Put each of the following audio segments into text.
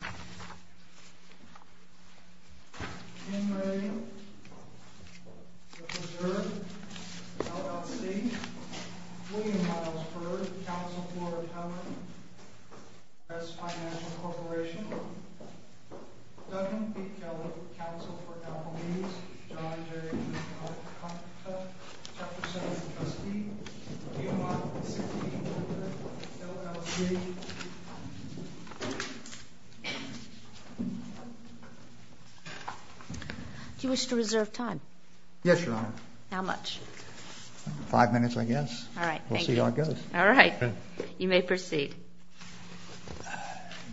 William Miles Byrd, Counsel, Florida County, U.S. Financial Corporation Douglas B. Keller, Counsel for Applebees John J. Alcantara, Director, Center for the Custody Ian Mark, 16th District, LLC Do you wish to reserve time? Yes, Your Honor. How much? Five minutes, I guess. Alright, thank you. We'll see how it goes. Alright. You may proceed.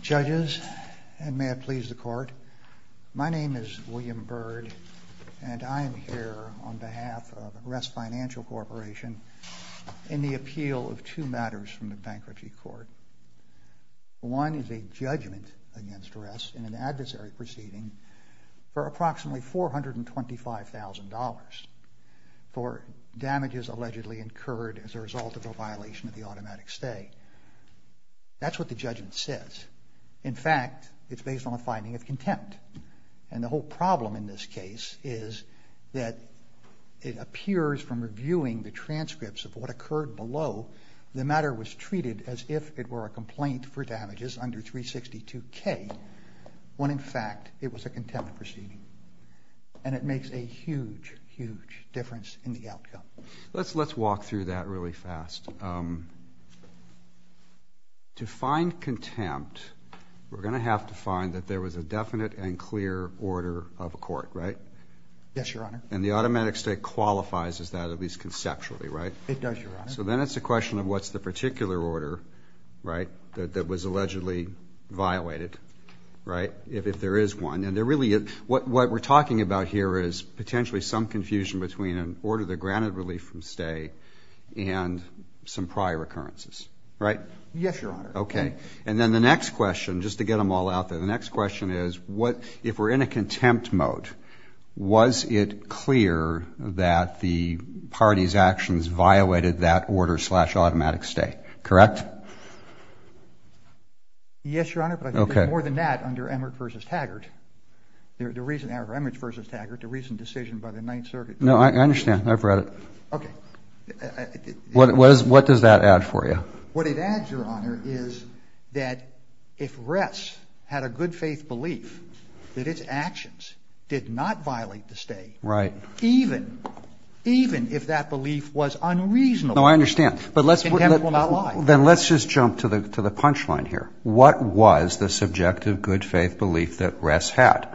Judges, and may it please the Court, my name is William Byrd, and I am here on behalf of Rest Financial Corporation in the appeal of two matters from the man's duress in an adversary proceeding for approximately $425,000 for damages allegedly incurred as a result of a violation of the automatic stay. That's what the judgment says. In fact, it's based on a finding of contempt. And the whole problem in this case is that it appears from reviewing the transcripts of what occurred below the matter was treated as if it were a complaint for damages under 362K when in fact it was a contempt proceeding. And it makes a huge, huge difference in the outcome. Let's walk through that really fast. To find contempt, we're going to have to find that there was a definite and clear order of a court, right? Yes, Your Honor. And the automatic stay qualifies as that, at least conceptually, right? It does, Your Honor. So then it's a question of what's the particular order, right, that was allegedly violated, right, if there is one. And there really is. What we're talking about here is potentially some confusion between an order that granted relief from stay and some prior occurrences, right? Yes, Your Honor. Okay. And then the next question, just to get them all out there, the next question is, if we're in a contempt mode, was it clear that the party's actions violated that order slash automatic stay, correct? Yes, Your Honor, but I think there's more than that under Emmert v. Taggart. The recent decision by the Ninth Circuit. No, I understand. I've read it. Okay. What does that add for you? What it adds, Your Honor, is that if Ress had a good faith belief that its actions did not violate the stay, even if that belief was unreasonable, contempt will not lie. Then let's just jump to the punchline here. What was the subjective good faith belief that Ress had?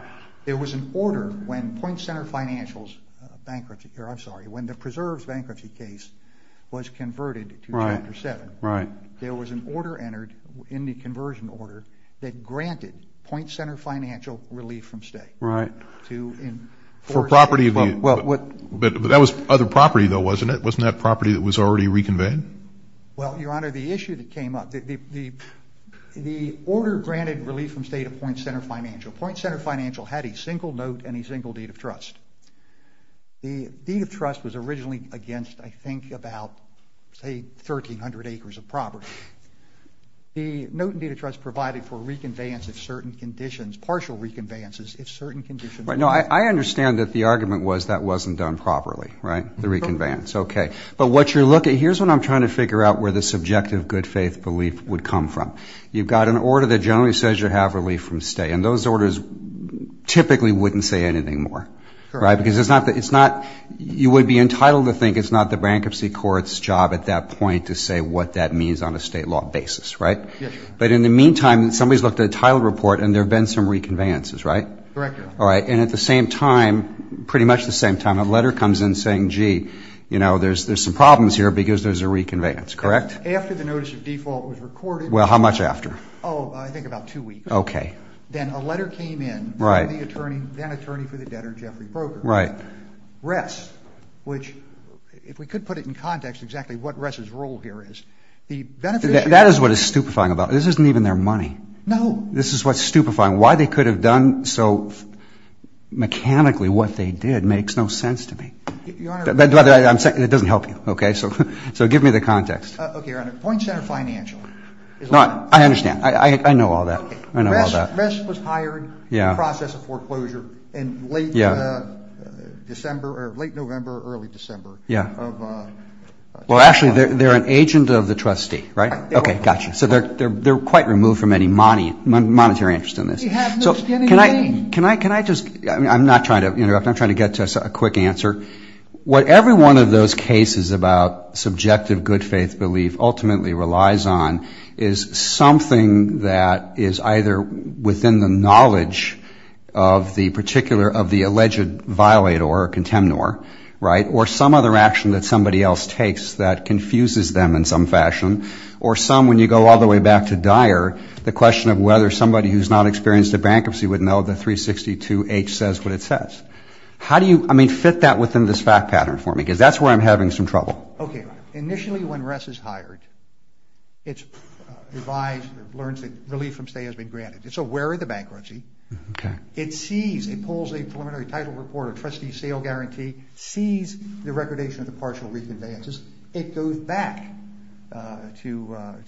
There was an order when Point Center Financials Bankruptcy, or I'm sorry, when the Preserves Bankruptcy case was converted to Chapter 7. Right. There was an order entered in the conversion order that granted Point Center Financial relief from stay. Right. For property, but that was other property though, wasn't it? Wasn't that property that was already reconveyed? Well, Your Honor, the issue that came up, the order granted relief from stay to Point Center Financial had a single note and a single deed of trust. The deed of trust was originally against, I think, about say 1,300 acres of property. The note and deed of trust provided for reconveyance of certain conditions, partial reconveyances, if certain conditions were met. No, I understand that the argument was that wasn't done properly, right? The reconveyance. Okay. But what you're looking, here's what I'm trying to figure out where the subjective good faith belief would come from. You've got an order that generally says you have relief from stay, and those orders typically wouldn't say anything more, right? Because it's not, you would be entitled to think it's not the bankruptcy court's job at that point to say what that means on a state law basis, right? But in the meantime, somebody's looked at a title report and there have been some reconveyances, right? Correct, Your Honor. And at the same time, pretty much the same time, a letter comes in saying, gee, you know, there's some problems here because there's a reconveyance, correct? After the notice of default was recorded. Well, how much after? Oh, I think about two weeks. Okay. Then a letter came in from the attorney, then attorney for the debtor, Jeffrey Broker. Right. Ress, which if we could put it in context exactly what Ress's role here is, the beneficiary. That is what it's stupefying about. This isn't even their money. No. This is what's stupefying. Why they could have done so to help you. Okay. So give me the context. Okay, Your Honor. Points that are financial. I understand. I know all that. I know all that. Ress was hired in the process of foreclosure in late December or late November, early December. Yeah. Well, actually, they're an agent of the trustee, right? Okay, gotcha. So they're quite removed from any monetary interest in this. So can I just I'm not trying to interrupt. I'm trying to get to a quick answer. What every one of those cases about subjective good faith belief ultimately relies on is something that is either within the knowledge of the particular of the alleged violator or contemnor, right? Or some other action that somebody else takes that confuses them in some fashion. Or some when you go all the way back to Dyer, the question of whether somebody who's not experienced a bankruptcy would know the 362H says what it says. How do you fit that within this fact pattern for me? Because that's where I'm having some trouble. Okay. Initially, when Ress is hired, it's revised, learns that relief from stay has been granted. It's aware of the bankruptcy. Okay. It sees, it pulls a preliminary title report, a trustee sale guarantee, sees the recordation of the partial reconveyances. It goes back to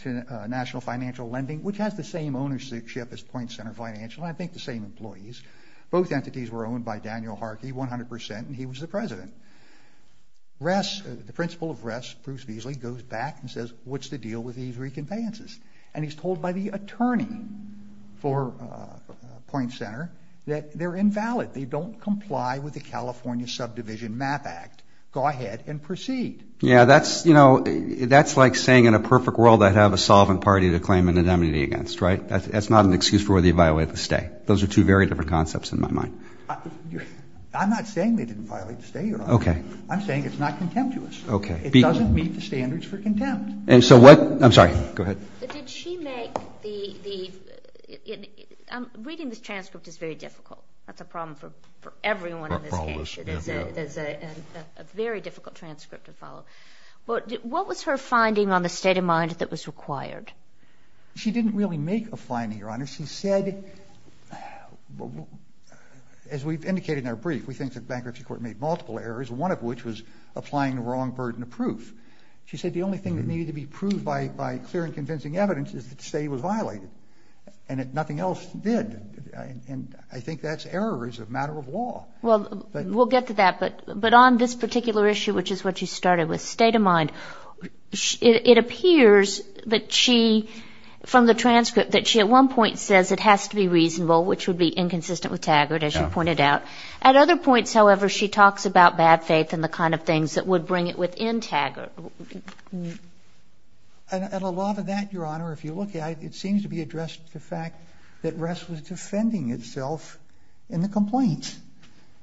national financial lending, which has the same ownership as Point Center Financial. I think the same employees. Both entities were owned by Daniel Harkey, 100%, and he was the president. Ress, the principal of Ress, Bruce Beasley, goes back and says, what's the deal with these reconveyances? And he's told by the attorney for Point Center that they're invalid. They don't comply with the California Subdivision Map Act. Go ahead and proceed. Yeah, that's, you know, that's like saying in a perfect world I'd have a solvent party to claim an indemnity against, right? That's not an excuse for whether you violate the stay. Those are two very different concepts in my mind. I'm not saying they didn't violate the stay. Okay. I'm saying it's not contemptuous. Okay. It doesn't meet the standards for contempt. And so what, I'm sorry, go ahead. Did she make the, reading this transcript is very difficult. That's a problem for everyone in this case. It is a very difficult transcript to follow. What was her finding on the state of mind that was required? She didn't really make a finding, Your Honor. She said, as we've indicated in our brief, we think the bankruptcy court made multiple errors, one of which was applying the wrong burden of proof. She said the only thing that needed to be proved by clear and convincing evidence is that stay was violated. And nothing else did. And I think that's errors of matter of law. Well, we'll get to that. But on this particular issue, which is what you started with, state of mind, it appears that she, from the transcript, that she at one point says it has to be reasonable, which would be inconsistent with Taggart, as you pointed out. At other points, however, she talks about bad faith and the kind of things that would bring it within Taggart. And a lot of that, Your Honor, if you look at it, it seems to be addressed to the fact that Ress was defending itself in the complaint.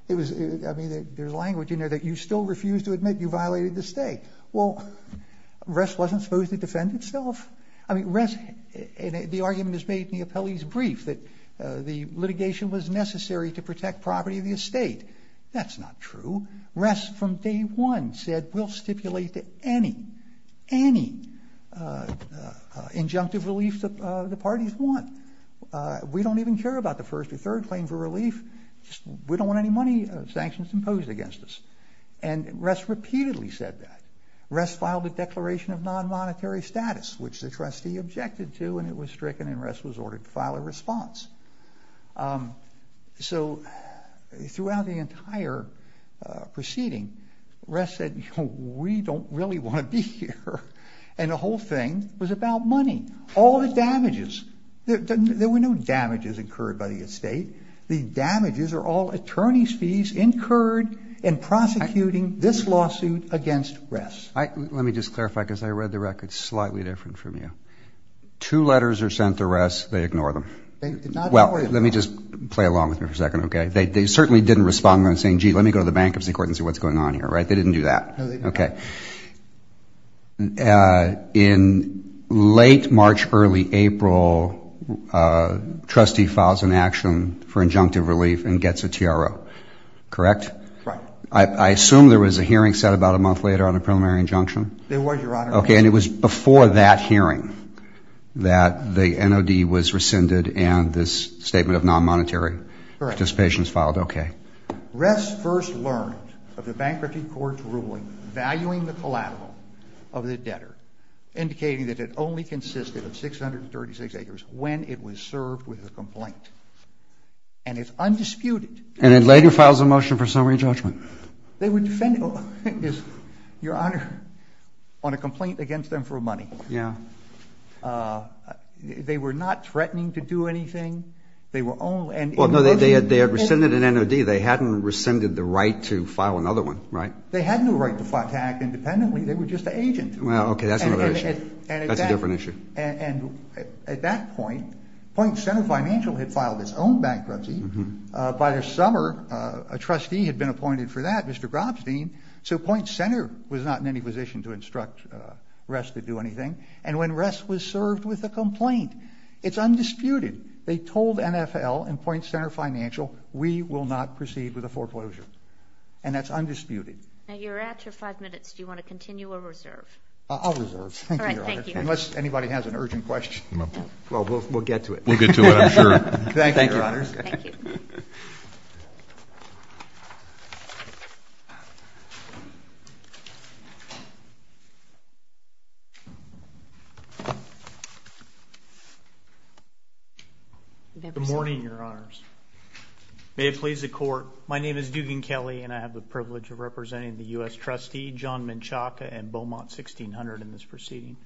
It was, I mean, there's language in there that you still refuse to admit you violated the state. Well, Ress wasn't supposed to defend itself. I mean, Ress, the argument is made in the appellee's case that the litigation was necessary to protect property of the estate. That's not true. Ress, from day one, said we'll stipulate any, any injunctive relief the parties want. We don't even care about the first or third claim for relief. We don't want any money sanctions imposed against us. And Ress repeatedly said that. Ress filed a declaration of defense. So throughout the entire proceeding, Ress said, we don't really want to be here. And the whole thing was about money. All the damages. There were no damages incurred by the estate. The damages are all attorney's fees incurred in prosecuting this lawsuit against Ress. Let me just clarify, because I read the record slightly different from you. Two letters are sent to Ress. They ignore them. Well, let me just play along with you for a second, okay? They certainly didn't respond by saying, gee, let me go to the bankruptcy court and see what's going on here, right? They didn't do that. Okay. In late March, early April, a trustee files an action for injunctive relief and gets a TRO, correct? Right. I assume there was a hearing set about a month later on a preliminary injunction? There was, Your Honor. Okay. And it was before that hearing that the NOD was rescinded and this statement of non-monetary participation is filed? Correct. Okay. Ress first learned of the bankruptcy court's ruling valuing the collateral of the debtor, indicating that it only consisted of 636 acres when it was served with a complaint. And it's undisputed. And it later files a motion for summary judgment. They were defending, Your Honor, on a complaint against them for money. Yeah. They were not threatening to do anything. They were only... Well, no, they had rescinded an NOD. They hadn't rescinded the right to file another one, right? They had no right to act independently. They were just an agent. Well, okay, that's another issue. That's a different issue. And at that point, Point Center Financial had filed its own bankruptcy. By the summer, a trustee had been appointed for that, Mr. Gropstein, so Point Center was not in any position to instruct Ress to do anything. And when Ress was served with a complaint, it's undisputed. They told NFL and Point Center Financial, we will not proceed with a foreclosure. And that's undisputed. Now you're at your five minutes. Do you want to continue or reserve? I'll reserve. Thank you, Your Honor, unless anybody has an urgent question. Well, we'll get to it. We'll get to it, I'm sure. Thank you, Your Honors. Good morning, Your Honors. May it please the Court, my name is Dugan Kelly and I have the privilege of representing the U.S. trustee, John Menchaca and Beaumont 1600 in this proceeding.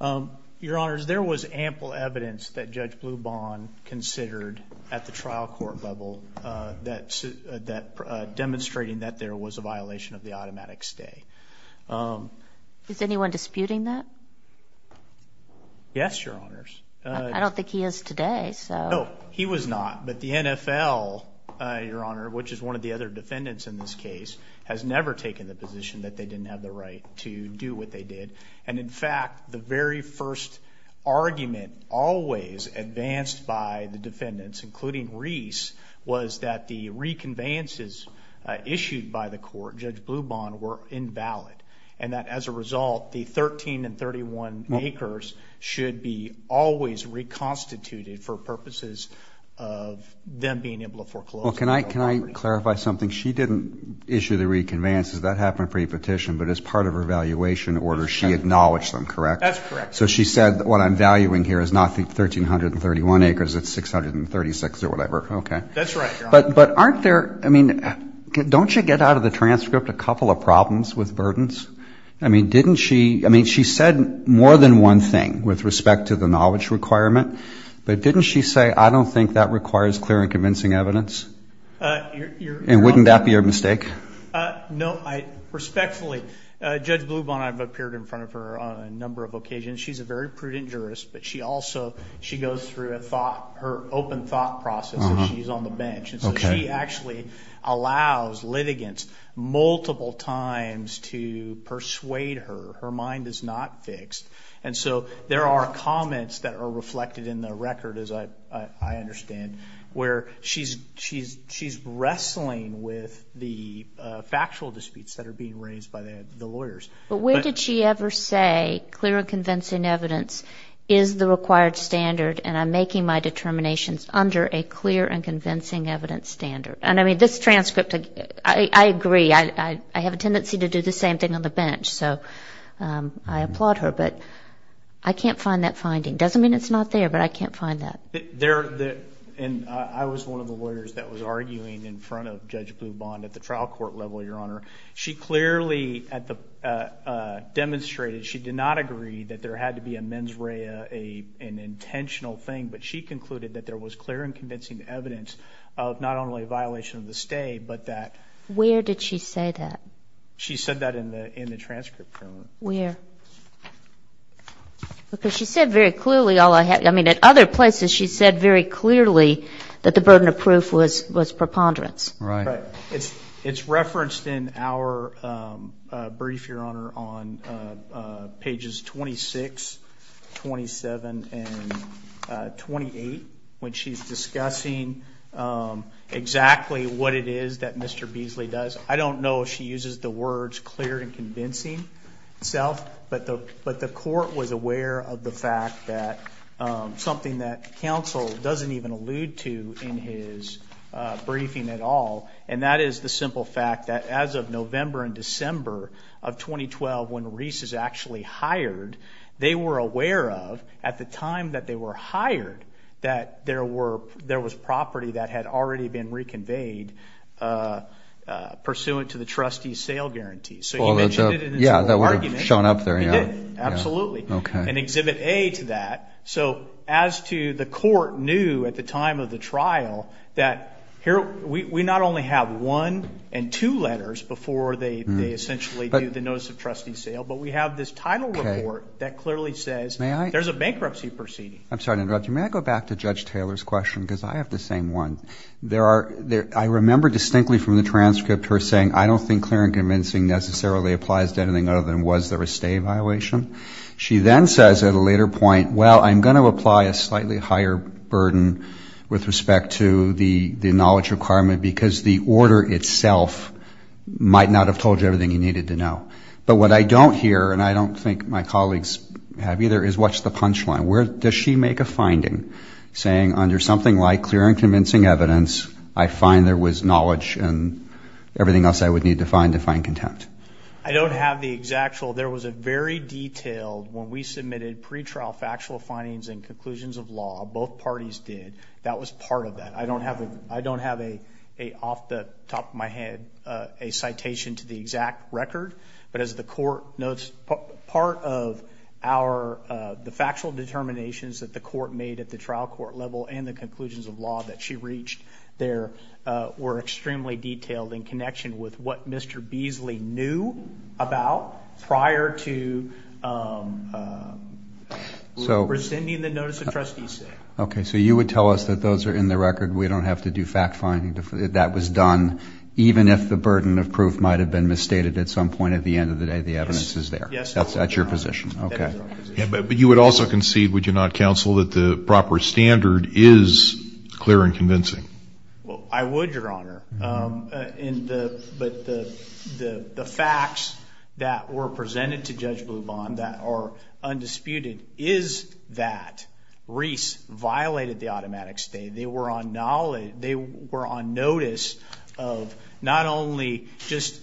Your Honors, there was ample evidence that Judge Blubahn considered at the trial court level that demonstrated that there was a violation of the automatic stay. Is anyone disputing that? Yes, Your Honors. I don't think he is today. No, he was not. But the NFL, Your Honor, which is one of the other defendants in this case, has never taken the position that they didn't have the right to do what they did. And in fact, the very first argument always advanced by the defendants, including Reese, was that the reconveyances issued by the court, Judge Blubahn, were invalid. And that as a result, the 13 and 31 acres should be always reconstituted for purposes of them being able to foreclose. Well, can I clarify something? She didn't issue the reconveyances, that happened pre-petition, but as part of her evaluation order, she acknowledged them, correct? That's correct. So she said what I'm valuing here is not the 13 and 31 acres, it's 636 or whatever, okay. That's right, Your Honor. But aren't there, I mean, don't you get out of the transcript a couple of problems with burdens? I mean, didn't she, I mean, she said more than one thing with respect to the knowledge requirement, but didn't she say, I don't think that requires clear and convincing evidence? And wouldn't that be a mistake? No, respectfully, Judge Blubahn, I've appeared in front of her on a number of occasions. She's a very prudent jurist, but she also, she goes through a thought, her open thought process when she's on the bench. And so she actually allows litigants multiple times to persuade her. Her mind is not fixed. And so there are comments that are reflected in the record, as I understand, where she's wrestling with the factual disputes that are being raised by the lawyers. But where did she ever say clear and convincing evidence is the required standard, and I'm making my determinations under a clear and convincing evidence standard? And I mean, this transcript, I agree, I have a tendency to do the same thing on the bench. So I applaud her, but I can't find that finding. Doesn't mean it's not there, but I can't find that. And I was one of the lawyers that was arguing in front of Judge Blubahn at the trial court level, Your Honor. She clearly demonstrated, she did not agree that there had to be a mens rea, an intentional thing, but she concluded that there was clear and convincing evidence of not only a violation of the stay, but that... Where did she say that? She said that in the transcript, Your Honor. Where? Because she said very clearly, I mean, at other places she said very clearly that the burden of proof was preponderance. Right. It's referenced in our brief, Your Honor, on pages 26, 27, and 28, when she's discussing exactly what it is that Mr. Beasley does. I don't know if she uses the words clear and convincing itself, but the court was aware of the fact that something that counsel doesn't even allude to in his case is the simple fact that as of November and December of 2012, when Reese is actually hired, they were aware of, at the time that they were hired, that there was property that had already been reconveyed pursuant to the trustee's sale guarantees. So he mentioned it in his argument. He did. Absolutely. And Exhibit A to that. So as to the court knew at the time of the trial that we not only have one and two letters before they essentially do the notice of trustee sale, but we have this title report that clearly says there's a bankruptcy proceeding. I'm sorry to interrupt you. May I go back to Judge Taylor's question? Because I have the same one. I remember distinctly from the transcript her saying, I don't think clear and convincing necessarily applies to anything other than was there a stay violation. She then says at a later point, well, I'm going to apply a slightly higher burden with respect to the knowledge requirement because the order itself might not have told you everything you needed to know. But what I don't hear, and I don't think my colleagues have either, is what's the punch line? Where does she make a finding saying under something like clear and convincing evidence, I find there was knowledge and I don't have the exact. There was a very detailed when we submitted pre-trial factual findings and conclusions of law. Both parties did. That was part of that. I don't have a off the top of my head a citation to the exact record. But as the court notes, part of the factual determinations that the court made at the trial court level and the conclusions of law that she reached there were extremely detailed in connection with what Mr. Beasley knew about prior to rescinding the notice of trustee stay. Okay, so you would tell us that those are in the record. We don't have to do fact finding. That was done even if the burden of proof might have been misstated at some point at the end of the day, the evidence is there. Yes. That's at your position. Okay. But you would also concede, would you not counsel that the proper standard is clear and convincing? Well, I would, Your Honor. But the facts that were presented to Judge Bluban that are undisputed is that Reese violated the automatic stay. They were on notice of not only just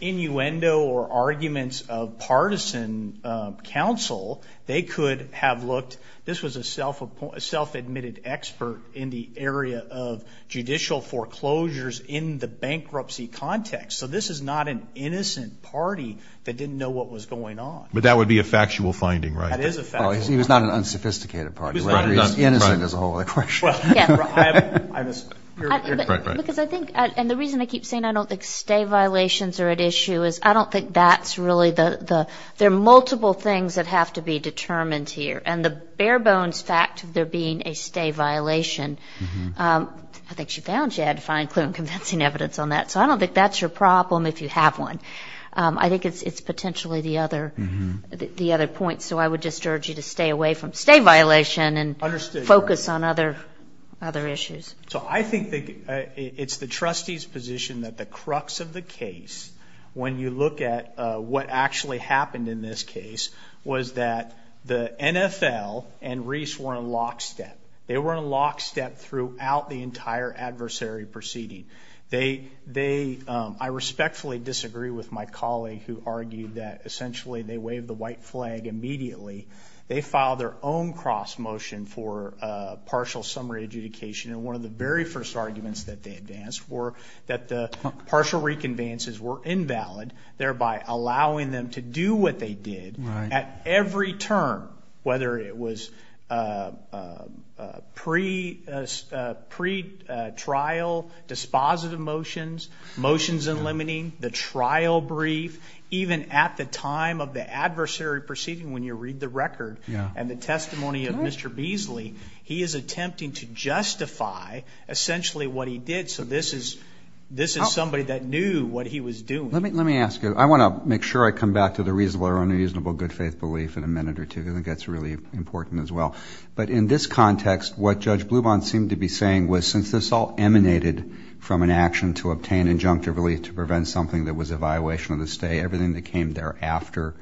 innuendo or arguments of partisan counsel, they could have looked, this was a self-admitted expert in the area of judicial foreclosures in the bankruptcy context. So this is not an innocent party that didn't know what was going on. But that would be a factual finding, right? That is a factual finding. He was not an unsophisticated party. He was innocent is the whole question. Because I think, and the reason I keep saying I don't think stay violations are at issue is I don't think that's really the, there are multiple things that have to be determined here. And the bare bones fact of there being a stay violation, I think she found she had to find clear and convincing evidence on that. So I don't think that's your problem if you have one. I think it's potentially the other point. So I would just urge you to stay away from stay violation and focus on other issues. So I think it's the trustee's position that the crux of the case, when you look at what actually happened in this case, was that the NFL and Reese were in lockstep. They were in lockstep throughout the entire adversary proceeding. They, I respectfully disagree with my colleague who argued that essentially they waved the white flag immediately. They filed their own cross motion for partial summary adjudication. And one of the very first arguments that they advanced were that the partial reconveyances were invalid, thereby allowing them to do what they did at every turn, whether it was pre-trial dispositive motions, motions in limiting, the trial brief, even at the time of the adversary proceeding when you read the record and the testimony of Mr. Beasley, he is attempting to justify essentially what he did. So this is somebody that knew what he was doing. Let me ask you, I want to make sure I come back to the reasonable or unreasonable good because I think it's important as well. But in this context, what Judge Bluban seemed to be saying was since this all emanated from an action to obtain injunctive relief to prevent something that was a violation of the stay, everything that came thereafter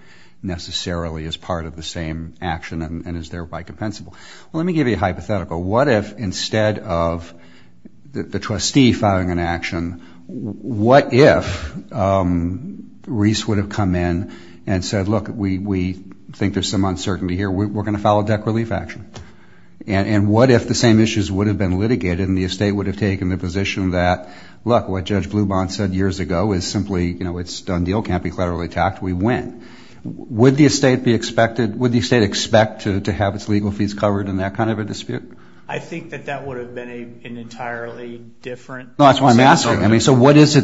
necessarily is part of the same action and is thereby compensable. Let me give you a hypothetical. What if instead of the trustee filing an action, what if Reese would have come in and said, look, we think there's some uncertainty here. We're going to file a debt relief action. And what if the same issues would have been litigated and the estate would have taken the position that, look, what Judge Bluban said years ago is simply it's a done deal, can't be collaterally attacked, we win. Would the estate expect to have its legal fees covered in that kind of a dispute? I think that that would have been an entirely different situation. I mean, so what is it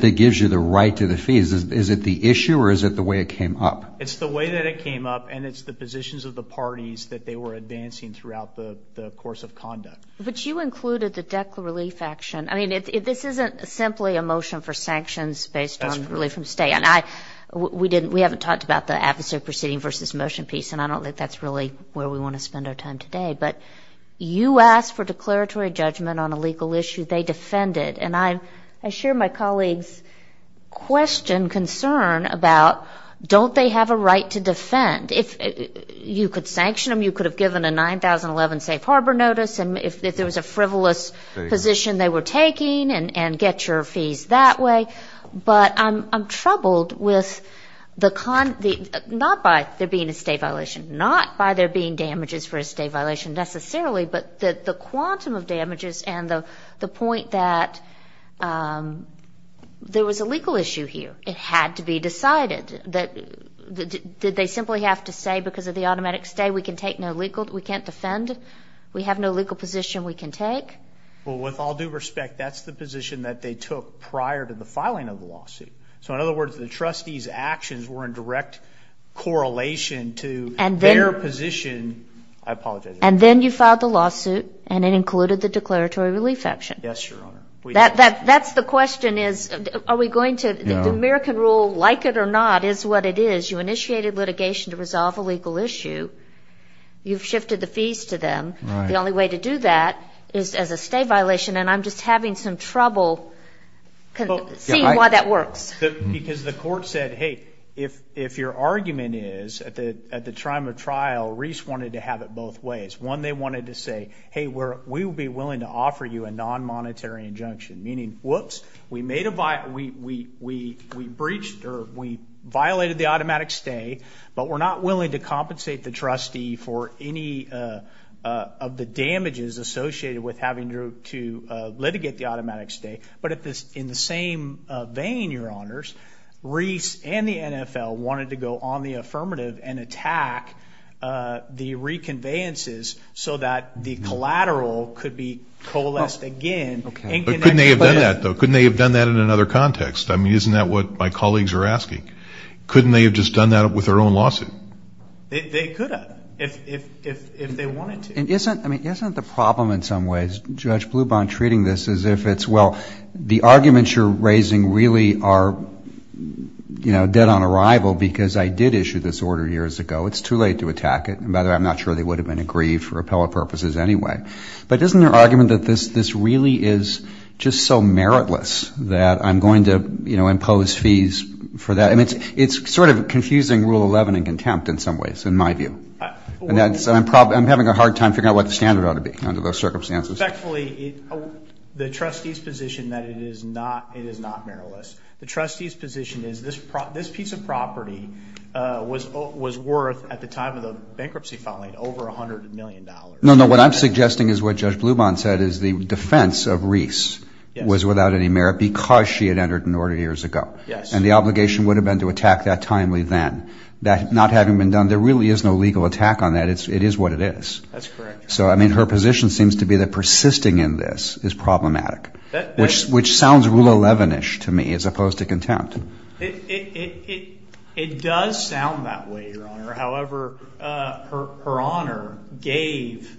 that gives you the right to the fees? Is it the issue or is it the way it came up? It's the way that it came up and it's the positions of the parties that they were advancing throughout the course of conduct. But you included the debt relief action. I mean, this isn't simply a motion for sanctions based on relief from stay. And we haven't talked about the adversary proceeding versus motion piece, and I don't think that's really where we want to spend our time today. But you asked for declaratory judgment on a legal issue. They defended. And I share my colleague's question, concern about don't they have a right to defend? If you could sanction them, you could have given a 9011 safe harbor notice. And if there was a frivolous position they were taking, and get your fees that way. But I'm troubled with the, not by there being a state violation, not by there being an a state violation necessarily, but the quantum of damages and the point that there was a legal issue here. It had to be decided. Did they simply have to say, because of the automatic stay, we can take no legal, we can't defend, we have no legal position we can take? Well, with all due respect, that's the position that they took prior to the filing of the lawsuit. So in other words, the trustees' actions were in direct correlation to their position. I apologize. And then you filed the lawsuit, and it included the declaratory relief action. Yes, Your Honor. That's the question is, are we going to, the American rule, like it or not, is what it is. You initiated litigation to resolve a legal issue. You've shifted the fees to them. The only way to do that is as a state violation, and I'm just having some trouble seeing why that works. Because the court said, hey, if your argument is, at the time of trial, Reese wanted to have it both ways. One, they wanted to say, hey, we'll be willing to offer you a non-monetary injunction. Meaning, whoops, we made a, we breached, or we violated the automatic stay, but we're not willing to compensate the trustee for any of the damages associated with having to litigate the automatic stay. But in the same vein, Your Honors, Reese and the NFL wanted to go on the affirmative and attack the reconveyances so that the collateral could be coalesced again. Couldn't they have done that, though? Couldn't they have done that in another context? I mean, isn't that what my colleagues are asking? Couldn't they have just done that with their own lawsuit? They could have, if they wanted to. I mean, isn't the problem in some ways, Judge Blubin treating this as if it's, well, the arguments you're raising really are dead on arrival, because I did issue this order years ago. It's too late to attack it. And by the way, I'm not sure they would have been aggrieved for appellate purposes anyway. But isn't there argument that this really is just so meritless that I'm going to impose fees for that? I mean, it's sort of confusing Rule 11 in contempt in some ways, in my view. And I'm having a hard time figuring out what the standard ought to be under those circumstances. Respectfully, the trustee's position that it is not meritless, the trustee's position is this piece of property was worth, at the time of the bankruptcy filing, over $100 million. No, no, what I'm suggesting is what Judge Blubin said, is the defense of Reese was without any merit because she had entered an order years ago. And the obligation would have been to attack that timely then. That not having been done, there really is no legal attack on that. It is what it is. So, I mean, her position seems to be that persisting in this is problematic, which sounds Rule 11-ish to me, as opposed to contempt. It does sound that way, Your Honor. However, her Honor gave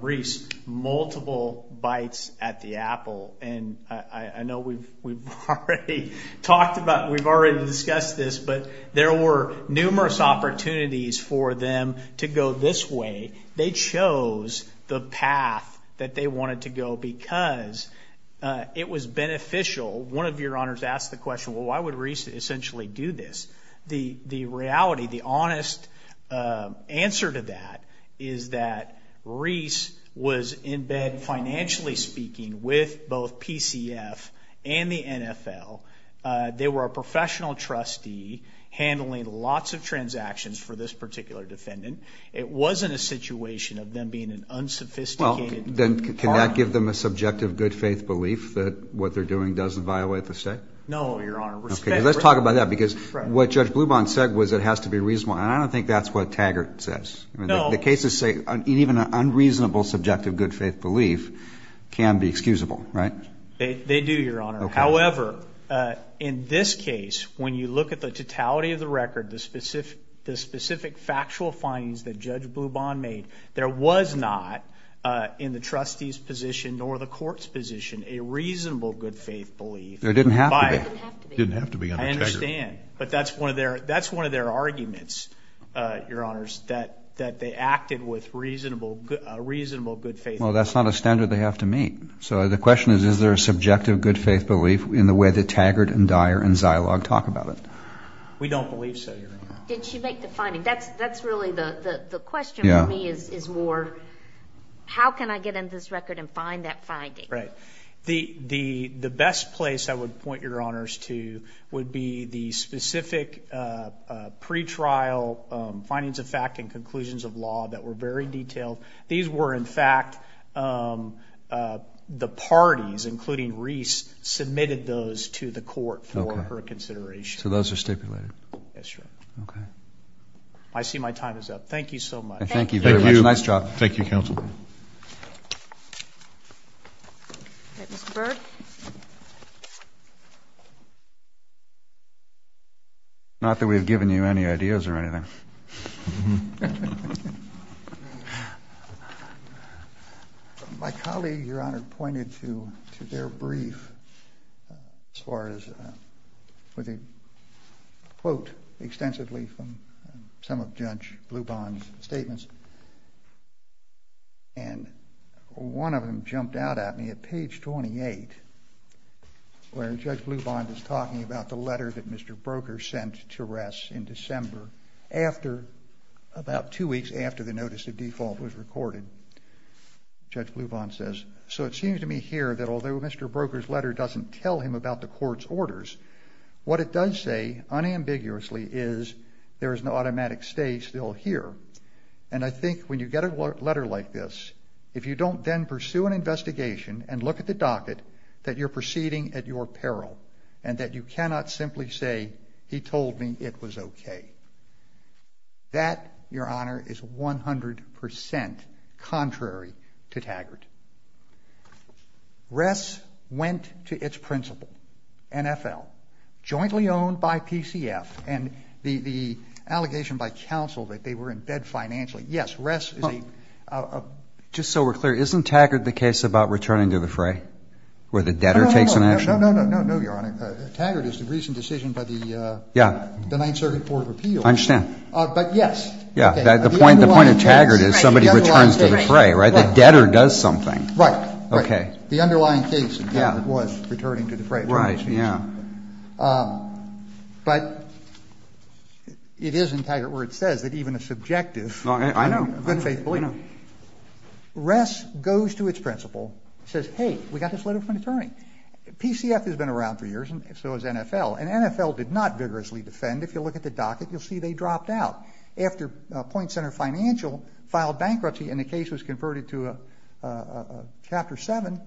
Reese multiple bites at the apple. And I know we've already talked about, we've already discussed this, but there were numerous opportunities for them to go this way. They chose the path that they wanted to go because it was beneficial. One of Your Honors asked the question, why would Reese essentially do this? The reality, the honest answer to that is that Reese was in bed, financially speaking, with both PCF and the NFL. They were a professional trustee handling lots of transactions for this particular defendant. It wasn't a situation of them being an unsophisticated partner. Can that give them a subjective good faith belief that what they're doing doesn't violate the state? No, Your Honor. Let's talk about that because what Judge Blubahn said was it has to be reasonable. And I don't think that's what Taggart says. The cases say even an unreasonable subjective good faith belief can be excusable, right? They do, Your Honor. However, in this case, when you look at the totality of the record, the specific factual findings that Judge Blubahn made, there was not in the trustee's position nor the court's position a reasonable good faith belief. There didn't have to be. There didn't have to be. I understand. But that's one of their arguments, Your Honors, that they acted with a reasonable good faith belief. Well, that's not a standard they have to meet. So the question is, is there a subjective good faith belief in the way that Taggart and Dyer and Zilog talk about it? We don't believe so, Your Honor. Did she make the finding? That's really the question for me is more, how can I get into this record and find that finding? Right. The best place I would point Your Honors to would be the specific pretrial findings of fact and conclusions of law that were very detailed. These were in fact the parties, including Reese, submitted those to the court for her consideration. So those are stipulated. Yes, Your Honor. Okay. I see my time is up. Thank you so much. Thank you very much. Nice job. Thank you, Counsel. Not that we've given you any ideas or anything. My colleague, Your Honor, pointed to their brief as far as, with a quote extensively from some of Judge Blubond's statements, and one of them jumped out at me at page 28, where Judge Blubond was talking about the letter that Mr. Broker sent to Ress in December after, about two weeks after the notice of default was recorded. Judge Blubond says, so it seems to me here that although Mr. Broker's letter doesn't tell him about the court's orders, what it does say unambiguously is there is an automatic stay still here. And I think when you get a letter like this, if you don't then pursue an investigation and look at the docket, that you're proceeding at your discretion, that's okay. That, Your Honor, is 100 percent contrary to Taggart. Ress went to its principal, NFL, jointly owned by PCF, and the allegation by counsel that they were in debt financially, yes, Ress is a... Just so we're clear, isn't Taggart the case about returning to the fray, where the debtor takes an action? No, no, no, Your Honor. Taggart is the recent decision by the Ninth Circuit Court of Appeals. I understand. But yes. The point of Taggart is somebody returns to the fray, right? The debtor does something. Right. Okay. The underlying case was returning to the fray. Right, yeah. But it is in Taggart where it says that even a subjective, I know, unfaithful, you know, Ress goes to its principal, says, hey, we got this letter from an attorney. PCF has been around for years, and so has NFL. And NFL did not vigorously defend. If you look at the docket, you'll see they dropped out. After Point Center Financial filed bankruptcy and the case was converted to a Chapter 7,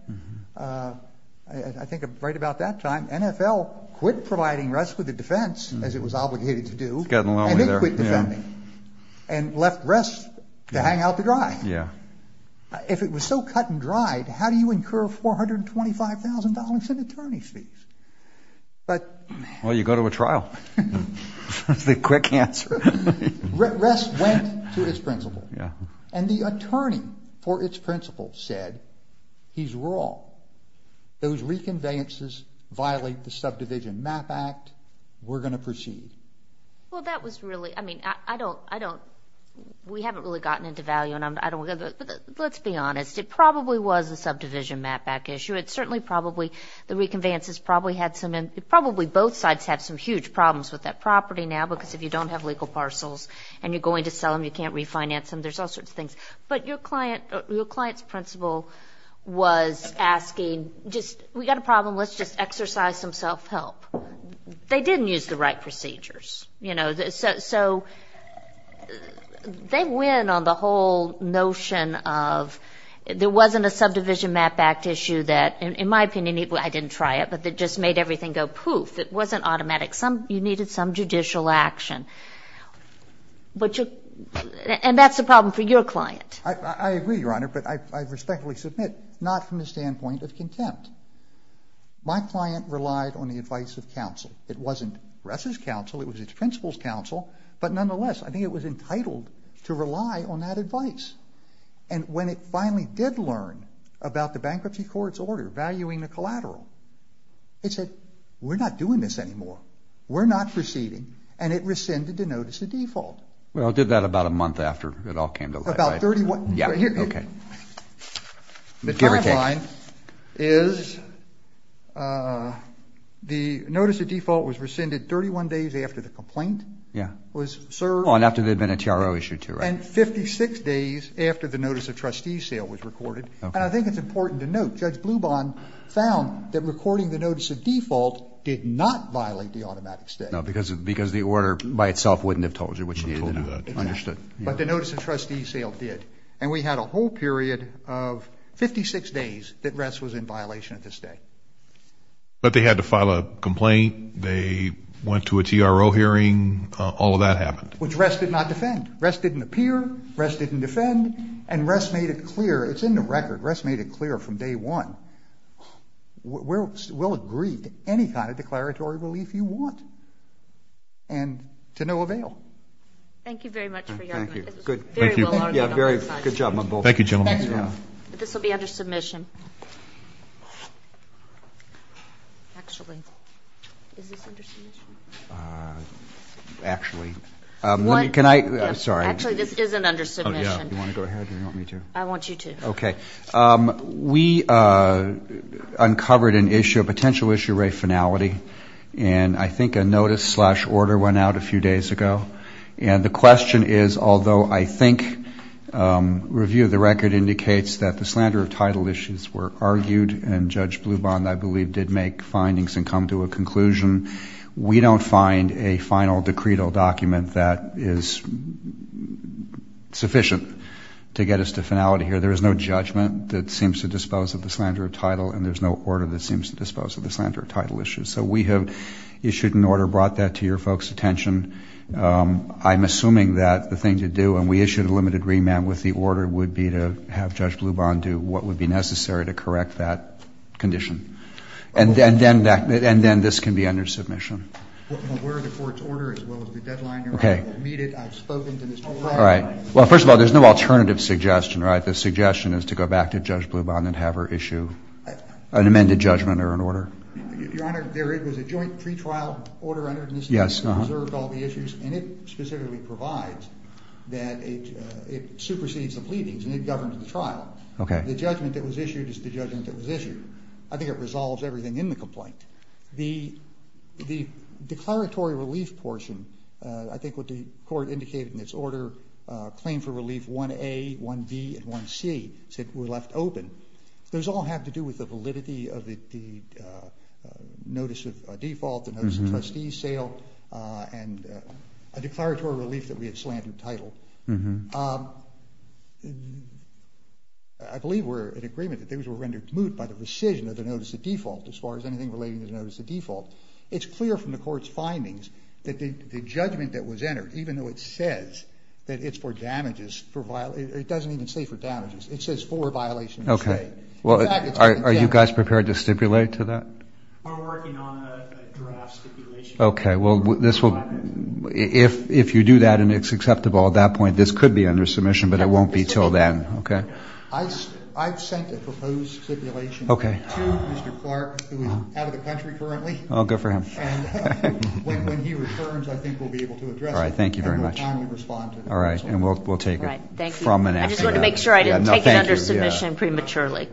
I think right about that time, NFL quit providing Ress with a defense, as it was obligated to do, and they quit defending and left Ress to hang out the dry. Yeah. If it was so cut and dried, how do you incur $425,000 in attorney fees? Well, you go to a trial. That's the quick answer. Ress went to its principal, and the attorney for its principal said, he's wrong. Those reconveyances violate the Subdivision Map Act. We're going to proceed. Well, that was really, I mean, I don't, I don't, we haven't really gotten into value, but let's be honest. It probably was a subdivision map back issue. It certainly probably, the reconveyances probably had some, probably both sides have some huge problems with that property now, because if you don't have legal parcels and you're going to sell them, you can't refinance them. There's all sorts of things. But your client, your client's principal was asking just, we got a problem. Let's just exercise some self-help. They didn't use the right procedures. You know, so they win on the whole notion of, there wasn't a subdivision map back issue that, in my opinion, I didn't try it, but that just made everything go poof. It wasn't automatic. Some, you needed some judicial action. But you, and that's a problem for your client. I agree, Your Honor, but I respectfully submit, not from the standpoint of contempt. My client relied on the advice of counsel. It wasn't Ressa's counsel, it was its principal's counsel, but nonetheless, I think it was entitled to rely on that advice. And when it finally did learn about the bankruptcy court's order valuing the collateral, it said, we're not doing this anymore. We're not proceeding. And it rescinded the notice of default. Well, it did that about a month after it all came to light. The timeline is, the notice of default was rescinded 31 days after the complaint was served. And 56 days after the notice of trustees sale was recorded. And I think it's important to note, Judge Blubahn found that recording the notice of default did not violate the automatic stay. No, because the order by itself wouldn't have told you what you needed to know. Understood. But the notice of trustees sale did. And we had a whole period of 56 days that Ress was in violation of the stay. But they had to file a complaint. They went to a TRO hearing. All of that happened. Which Ress did not defend. Ress didn't appear. Ress didn't defend. And Ress made it clear. It's in the record. Ress made it clear from day one. We'll agree to any kind of declaratory relief you want. And to no avail. Thank you very much for your time. This will be under submission. Actually. Is this under submission? Actually. Sorry. Actually, this isn't under submission. You want to go ahead or do you want me to? I want you to. Okay. We uncovered a potential issue rate finality. And I think a notice slash order went out a few days ago. And the question is, although I think review of the record indicates that the slander of title issues were argued. And Judge Bluban, I believe, did make findings and come to a conclusion. We don't find a final decreed document that is sufficient to get us to finality here. There is no judgment that seems to dispose of the slander of title. And there's no order that seems to dispose of the slander of title issues. So we have issued an order, brought that to your folks' attention. I'm assuming that the thing to do, and we issued a limited remand with the order, would be to have Judge Bluban do what would be necessary to correct that condition. And then this can be under submission. Okay. All right. Well, first of all, there's no alternative suggestion, right? The suggestion is to go back to Judge Bluban and have her issue an amended judgment or an order. Your Honor, there was a joint pretrial order entered in this case that reserved all the issues. And it specifically provides that it supersedes the pleadings and it governs the trial. The judgment that was issued is the judgment that was issued. I think it resolves everything in the complaint. The declaratory relief portion, I think what the court indicated in its order, claim for relief 1A, 1B, and 1C, said were left open, those all have to do with the validity of the notice of default, the notice of trustee sale, and a declaratory relief that we had slandered title. I believe we're in agreement that those were rendered moot by the rescission of the notice of default as far as anything relating to the notice of default. It's clear from the court's findings that the judgment that was entered, even though it says that it's for damages, it doesn't even say for damages. It says for a violation of the state. We're working on a draft stipulation. If you do that and it's acceptable at that point, this could be under submission, but it won't be until then. I've sent a proposed stipulation to Mr. Clark, who is out of the country currently. When he returns, I think we'll be able to address it. And we'll timely respond to it. I just wanted to make sure I didn't take it under submission prematurely.